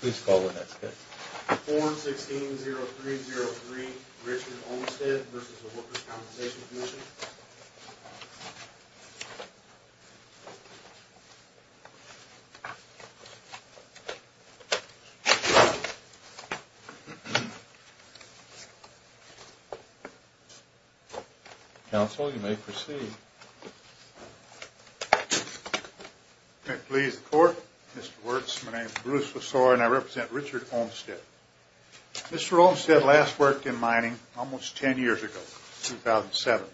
Please call the next case. Form 16-0303, Richard Olmsted v. Workers' Compensation Commission. Counsel, you may proceed. May it please the Court, Mr. Wirtz, my name is Bruce Lasore and I represent Richard Olmsted. Mr. Olmsted last worked in mining almost 10 years ago, 2007.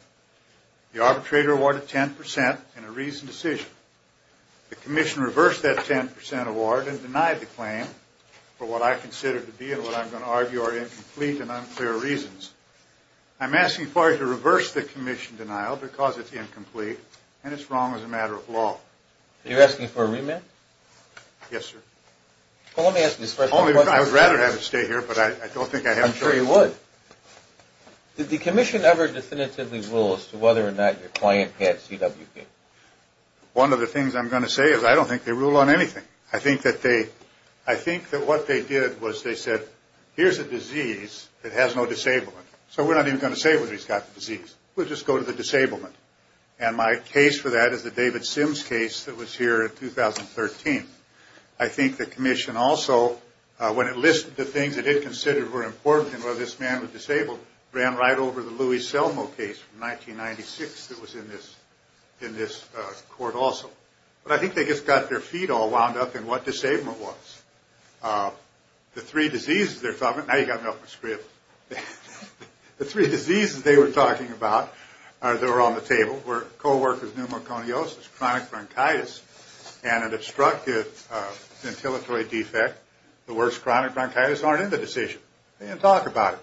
The arbitrator awarded 10% in a reasoned decision. The Commission reversed that 10% award and denied the claim for what I consider to be and what I'm going to argue are incomplete and unclear reasons. I'm asking for you to reverse the Commission denial because it's incomplete and it's wrong as a matter of law. You're asking for a remand? Yes, sir. Well, let me ask you this first. I would rather have it stay here, but I don't think I have a choice. I'm sure you would. Did the Commission ever definitively rule as to whether or not your client had CWP? One of the things I'm going to say is I don't think they rule on anything. I think that what they did was they said, here's a disease that has no disablement, so we're not even going to say whether he's got the disease. We'll just go to the disablement. And my case for that is the David Sims case that was here in 2013. I think the Commission also, when it listed the things it did consider were important in whether this man was disabled, ran right over the Louis Selmo case from 1996 that was in this court also. But I think they just got their feet all wound up in what disablement was. The three diseases they were talking about that were on the table were co-workers' pneumoconiosis, chronic bronchitis, and an obstructive ventilatory defect. The worst chronic bronchitis aren't in the decision. They didn't talk about it.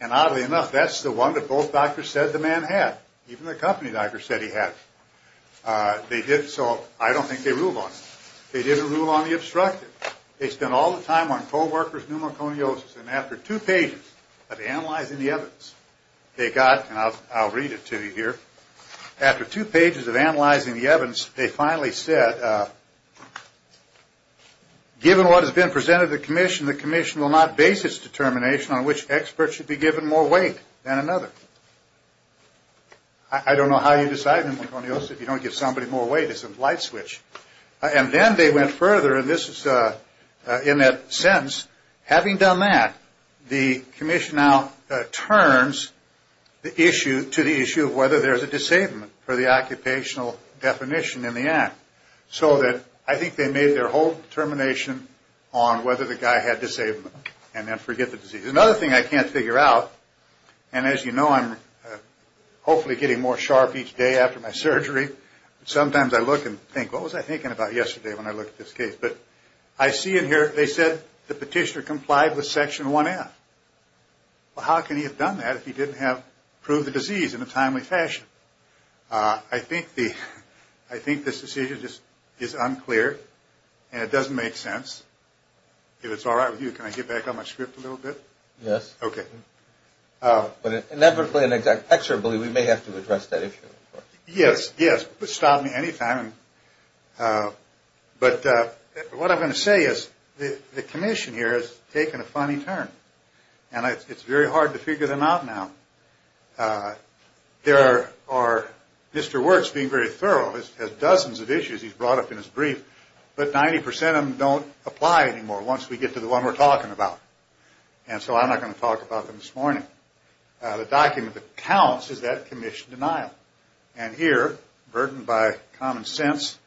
And oddly enough, that's the one that both doctors said the man had. Even the company doctor said he had. So I don't think they ruled on it. They didn't rule on the obstructive. They spent all the time on co-workers' pneumoconiosis. And after two pages of analyzing the evidence, they got, and I'll read it to you here, after two pages of analyzing the evidence, they finally said, given what has been presented to the Commission, the Commission will not base its determination on which expert should be given more weight than another. I don't know how you decide pneumoconiosis. If you don't give somebody more weight, it's a light switch. And then they went further, and this is in that sense, having done that, the Commission now turns the issue to the issue of whether there's a disablement for the occupational definition in the act. So that I think they made their whole determination on whether the guy had disablement and then forget the disease. Another thing I can't figure out, and as you know, I'm hopefully getting more sharp each day after my surgery. Sometimes I look and think, what was I thinking about yesterday when I looked at this case? But I see in here, they said the petitioner complied with Section 1F. Well, how can he have done that if he didn't have proved the disease in a timely fashion? I think this decision just is unclear, and it doesn't make sense. If it's all right with you, can I get back on my script a little bit? Yes. Okay. But inevitably and inexorably, we may have to address that issue. Yes, yes. Stop me any time. But what I'm going to say is the Commission here has taken a funny turn, and it's very hard to figure them out now. There are – Mr. Wertz, being very thorough, has dozens of issues he's brought up in his brief, but 90% of them don't apply anymore once we get to the one we're talking about. And so I'm not going to talk about them this morning. The document that counts is that Commission denial. And here, burdened by common sense,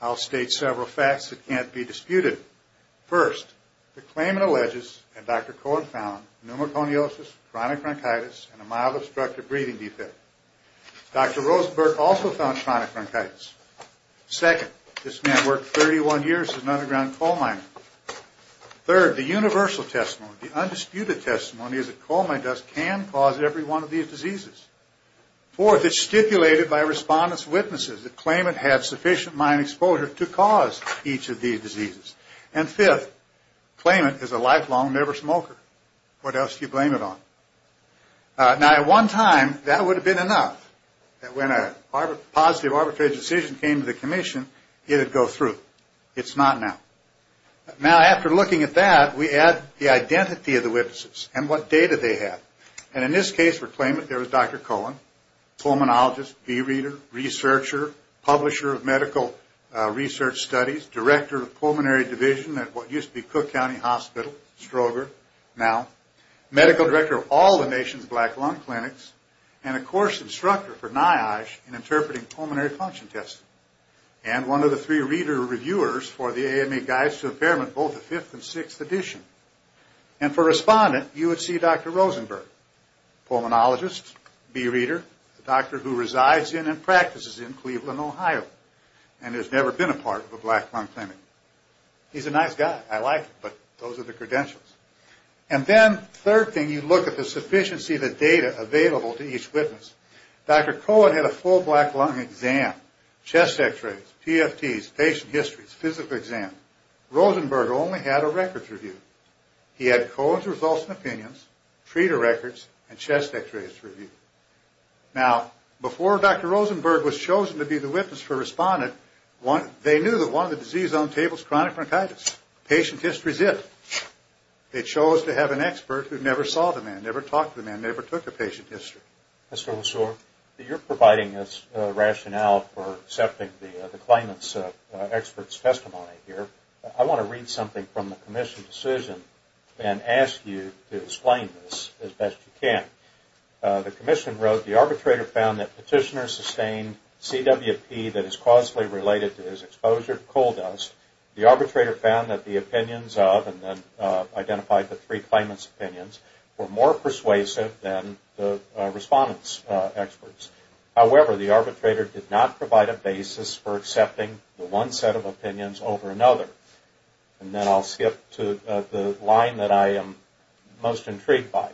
I'll state several facts that can't be disputed. First, the claimant alleges that Dr. Cohen found pneumoconiosis, chronic bronchitis, and a mild obstructive breathing defect. Dr. Rosenberg also found chronic bronchitis. Second, this man worked 31 years as an underground coal miner. Third, the universal testimony, the undisputed testimony, is that coal mine dust can cause every one of these diseases. Fourth, it's stipulated by respondents' witnesses that claimant had sufficient mine exposure to cause each of these diseases. And fifth, claimant is a lifelong never smoker. What else do you blame it on? Now, at one time, that would have been enough. When a positive arbitrary decision came to the Commission, it would go through. It's not now. Now, after looking at that, we add the identity of the witnesses and what data they have. And in this case for claimant, there was Dr. Cohen, pulmonologist, bee reader, researcher, publisher of medical research studies, director of pulmonary division at what used to be Cook County Hospital, Stroger, now. Medical director of all the nation's black lung clinics, and a course instructor for NIOSH in interpreting pulmonary function tests. And one of the three reader reviewers for the AMA Guides to Impairment, both the fifth and sixth edition. And for respondent, you would see Dr. Rosenberg, pulmonologist, bee reader, a doctor who resides in and practices in Cleveland, Ohio, and has never been a part of a black lung clinic. He's a nice guy. I like him, but those are the credentials. And then, third thing, you look at the sufficiency of the data available to each witness. Dr. Cohen had a full black lung exam, chest x-rays, PFTs, patient histories, physical exams. Rosenberg only had a records review. He had Cohen's results and opinions, treater records, and chest x-rays to review. Now, before Dr. Rosenberg was chosen to be the witness for respondent, they knew that one of the diseases on the table is chronic bronchitis. Patient history is it. They chose to have an expert who never saw the man, never talked to the man, never took a patient history. Mr. Ossor, you're providing us rationale for accepting the claimant's expert's testimony here. I want to read something from the commission decision and ask you to explain this as best you can. The commission wrote, the arbitrator found that petitioner sustained CWP that is causally related to his exposure to coal dust. The arbitrator found that the opinions of, and then identified the three claimant's opinions, were more persuasive than the respondent's experts. However, the arbitrator did not provide a basis for accepting the one set of opinions over another. And then I'll skip to the line that I am most intrigued by.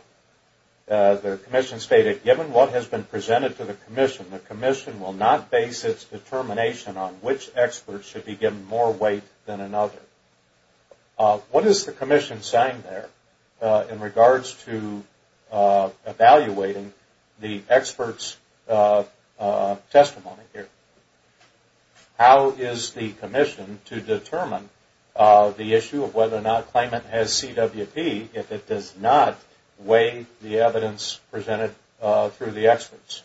The commission stated, given what has been presented to the commission, the commission will not base its determination on which expert should be given more weight than another. What is the commission saying there in regards to evaluating the expert's testimony here? How is the commission to determine the issue of whether or not claimant has CWP if it does not weigh the evidence presented through the experts?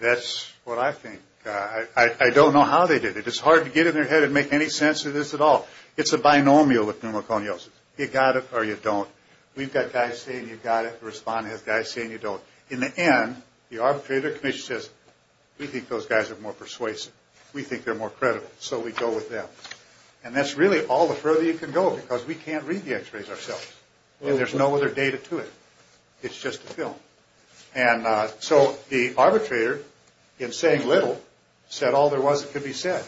That's what I think. I don't know how they did it. It's hard to get in their head and make any sense of this at all. It's a binomial with pneumoconiosis. You've got it or you don't. We've got guys saying you've got it, the respondent has guys saying you don't. In the end, the arbitrator, the commission says, we think those guys are more persuasive. We think they're more credible. So we go with them. And that's really all the further you can go because we can't read the x-rays ourselves. And there's no other data to it. It's just a film. And so the arbitrator, in saying little, said all there was that could be said.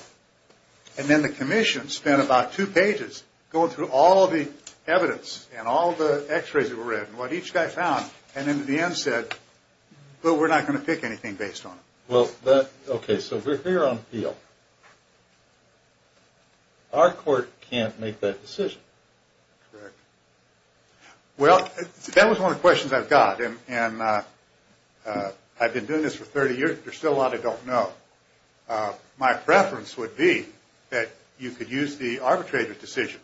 And then the commission spent about two pages going through all the evidence and all the x-rays that were read and what each guy found. And in the end said, well, we're not going to pick anything based on it. Well, okay, so we're here on appeal. Our court can't make that decision. Correct. Well, that was one of the questions I've got. And I've been doing this for 30 years. There's still a lot I don't know. My preference would be that you could use the arbitrator's decision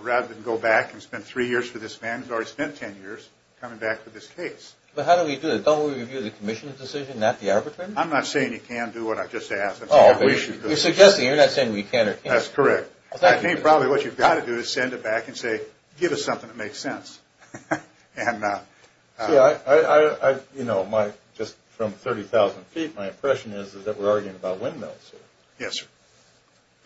rather than go back and spend three years for this man who's already spent ten years coming back for this case. But how do we do it? Don't we review the commission's decision, not the arbitrator's? I'm not saying you can do what I just asked. You're suggesting you're not saying we can or can't. That's correct. I think probably what you've got to do is send it back and say, give us something that makes sense. You know, just from 30,000 feet, my impression is that we're arguing about windmills. Yes, sir.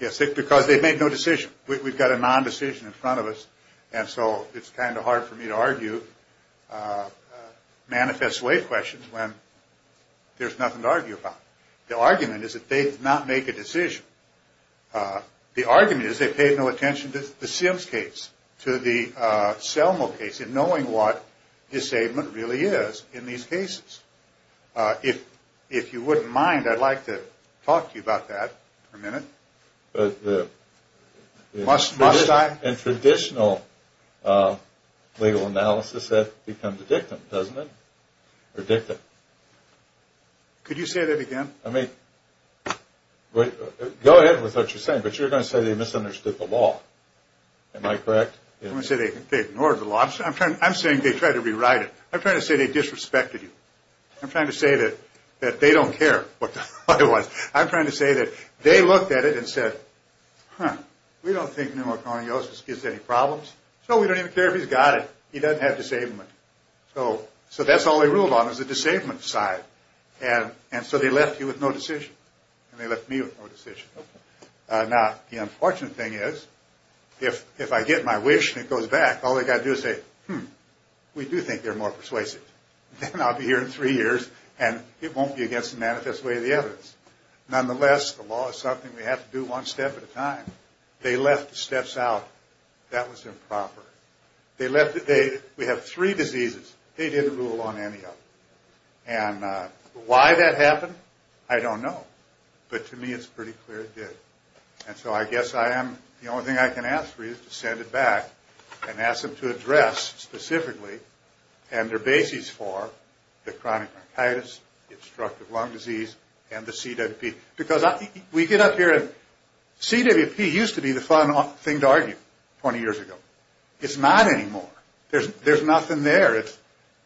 Yes, because they've made no decision. We've got a non-decision in front of us, and so it's kind of hard for me to argue manifest way questions when there's nothing to argue about. The argument is that they did not make a decision. The argument is they paid no attention to the Sims case, to the Selma case, in knowing what his statement really is in these cases. If you wouldn't mind, I'd like to talk to you about that for a minute. Must I? In traditional legal analysis, that becomes a dictum, doesn't it? Or dictum. Could you say that again? I mean, go ahead with what you're saying, but you're going to say they misunderstood the law. Am I correct? I'm going to say they ignored the law. I'm saying they tried to rewrite it. I'm trying to say they disrespected you. I'm trying to say that they don't care what the law was. I'm trying to say that they looked at it and said, huh, we don't think pneumoconiosis gives any problems, so we don't even care if he's got it. He doesn't have disablement. So that's all they ruled on is the disablement side. And so they left you with no decision, and they left me with no decision. Now, the unfortunate thing is, if I get my wish and it goes back, all they've got to do is say, hmm, we do think they're more persuasive. Then I'll be here in three years, and it won't be against the manifest way of the evidence. Nonetheless, the law is something we have to do one step at a time. They left the steps out. That was improper. We have three diseases. They didn't rule on any of them. And why that happened, I don't know. But to me, it's pretty clear it did. And so I guess the only thing I can ask for you is to send it back and ask them to address specifically and their bases for the chronic bronchitis, the obstructive lung disease, and the CWP. Because we get up here, and CWP used to be the fun thing to argue 20 years ago. It's not anymore. There's nothing there.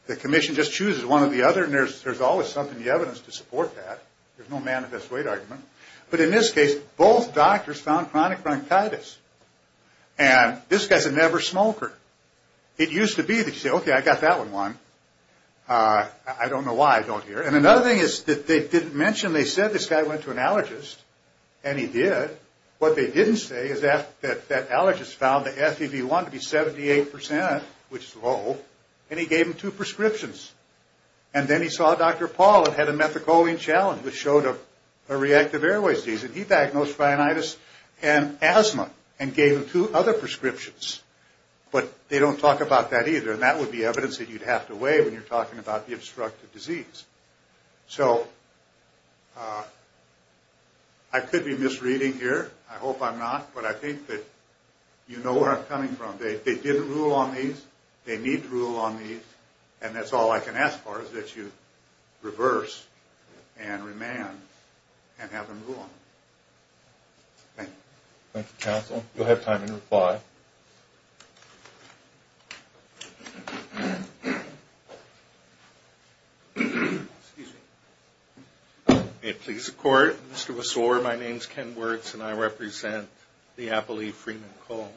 The commission just chooses one or the other, and there's always something in the evidence to support that. There's no manifest way argument. But in this case, both doctors found chronic bronchitis. And this guy's a never smoker. It used to be that you'd say, okay, I got that one, Juan. I don't know why I don't hear it. And another thing is that they didn't mention they said this guy went to an allergist, and he did. What they didn't say is that that allergist found the FEV1 to be 78%, which is low, and he gave him two prescriptions. And then he saw Dr. Paul and had a methicoline challenge, which showed a reactive airways disease. And he diagnosed rhinitis and asthma and gave him two other prescriptions. But they don't talk about that either. And that would be evidence that you'd have to weigh when you're talking about the obstructive disease. So I could be misreading here. I hope I'm not. But I think that you know where I'm coming from. They didn't rule on these. They need to rule on these. And that's all I can ask for is that you reverse and remand and have them rule on them. Thank you. Thank you, counsel. You'll have time to reply. Excuse me. May it please the Court. Mr. Wassore, my name's Ken Wirtz, and I represent the Apple Leaf Freeman Cole.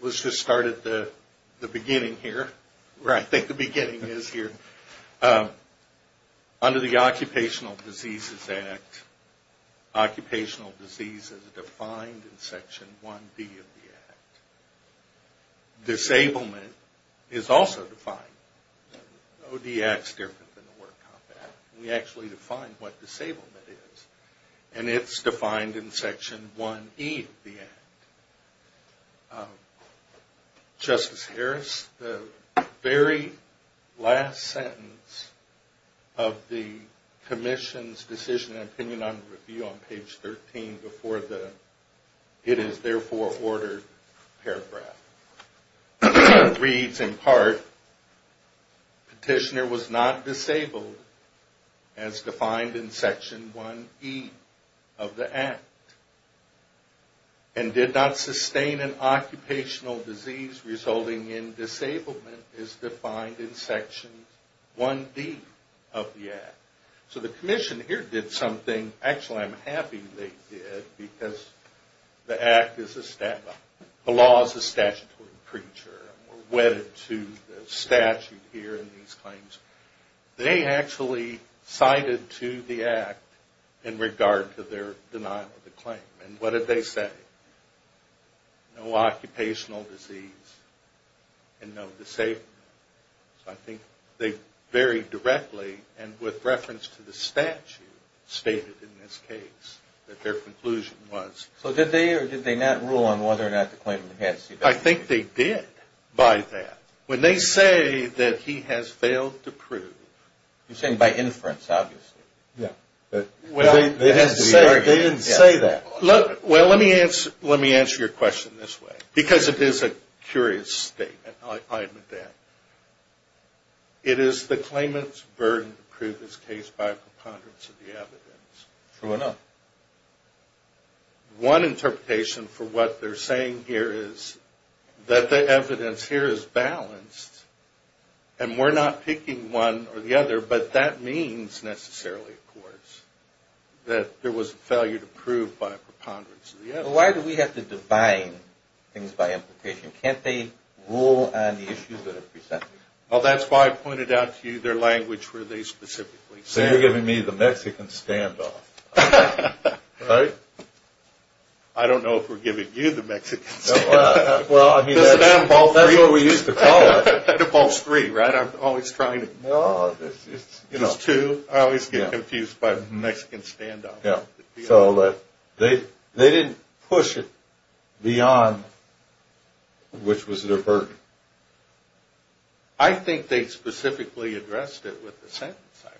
Let's just start at the beginning here, where I think the beginning is here. Under the Occupational Diseases Act, occupational disease is defined in Section 1B of the Act. Disablement is also defined. ODAC's different than the World Compact. We actually define what disablement is. And it's defined in Section 1E of the Act. Justice Harris, the very last sentence of the commission's decision and opinion on review on page 13 before the It is therefore ordered paragraph reads in part, petitioner was not disabled as defined in Section 1E of the Act. And did not sustain an occupational disease resulting in disablement as defined in Section 1D of the Act. So the commission here did something. Actually, I'm happy they did, because the Act is established. The law is a statutory preacher. We're wedded to the statute here in these claims. They actually cited to the Act in regard to their denial of the claim. And what did they say? No occupational disease and no disablement. I think they very directly and with reference to the statute stated in this case that their conclusion was. So did they or did they not rule on whether or not the claimant had disabled? I think they did by that. When they say that he has failed to prove. You're saying by inference, obviously. Yeah. They didn't say that. Well, let me answer your question this way. Because it is a curious statement. I'll admit that. It is the claimant's burden to prove this case by a preponderance of the evidence. Sure enough. One interpretation for what they're saying here is that the evidence here is balanced. And we're not picking one or the other. But that means necessarily, of course, that there was a failure to prove by a preponderance of the evidence. Why do we have to define things by implication? Can't they rule on the issues that are presented? Well, that's why I pointed out to you their language where they specifically said. So you're giving me the Mexican standoff. Right? I don't know if we're giving you the Mexican standoff. Well, I mean, that's what we used to call it. That involves three, right? I'm always trying to. It's two. I always get confused by the Mexican standoff. Yeah. So they didn't push it beyond which was their burden. I think they specifically addressed it with the sentence I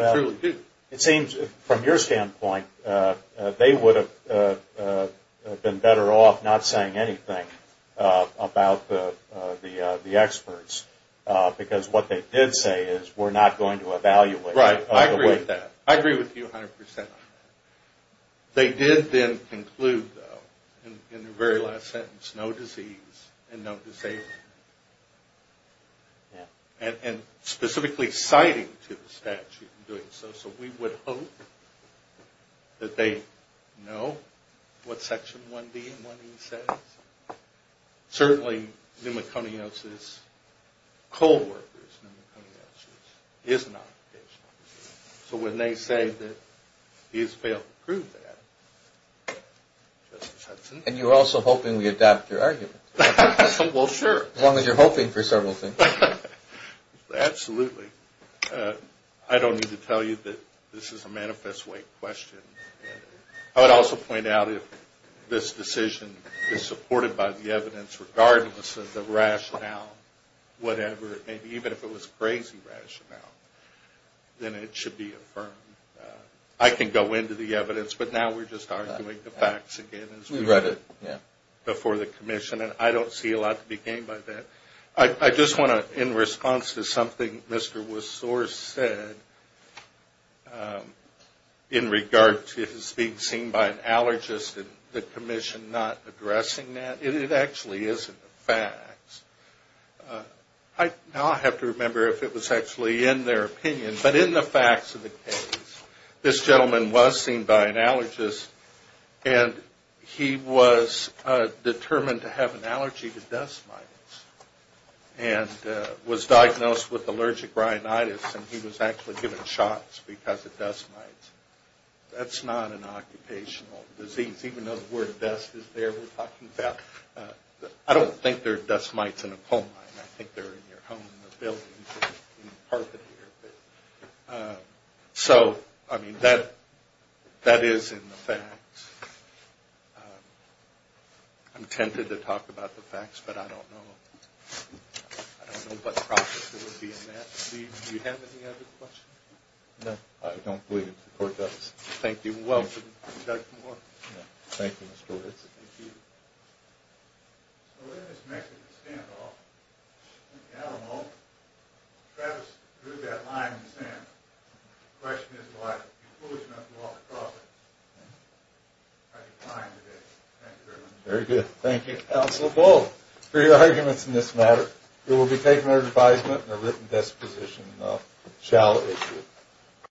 read. I truly do. It seems, from your standpoint, they would have been better off not saying anything about the experts. Because what they did say is we're not going to evaluate. Right. I agree with that. I agree with you 100%. They did then conclude, though, in the very last sentence, no disease and no disabled. Yeah. And specifically citing to the statute in doing so. So we would hope that they know what Section 1B and 1E says. Certainly pneumoconiosis, cold workers' pneumoconiosis, is not patient. So when they say that he has failed to prove that, Justice Hudson. And you're also hoping we adopt your argument. Well, sure. As long as you're hoping for several things. Absolutely. I don't need to tell you that this is a manifest way question. I would also point out if this decision is supported by the evidence regardless of the rationale, whatever, and even if it was crazy rationale, then it should be affirmed. I can go into the evidence, but now we're just arguing the facts again. We read it. Yeah. Before the commission. And I don't see a lot to be gained by that. I just want to, in response to something Mr. Wisore said in regard to his being seen by an allergist and the commission not addressing that, it actually isn't a fact. Now I have to remember if it was actually in their opinion. But in the facts of the case, this gentleman was seen by an allergist and he was determined to have an allergy to dust mites and was diagnosed with allergic rhinitis and he was actually given shots because of dust mites. That's not an occupational disease. Even though the word dust is there, we're talking about. I don't think there are dust mites in a coal mine. I think they're in your home, in a building, in the carpet here. So, I mean, that is in the facts. I'm tempted to talk about the facts, but I don't know. I don't know what process there would be in that. Steve, do you have any other questions? No. I don't believe the court does. Thank you. Well done. Thank you, Mr. Wisore. Thank you. So in this Mexican standoff, I don't know, Travis drew that line in the sand. The question is why. If you're foolish enough to walk across it, how do you find it? Thank you very much. Very good. Thank you, Counselor Bull, for your arguments in this matter. It will be taken under advisement and a written disposition shall issue it.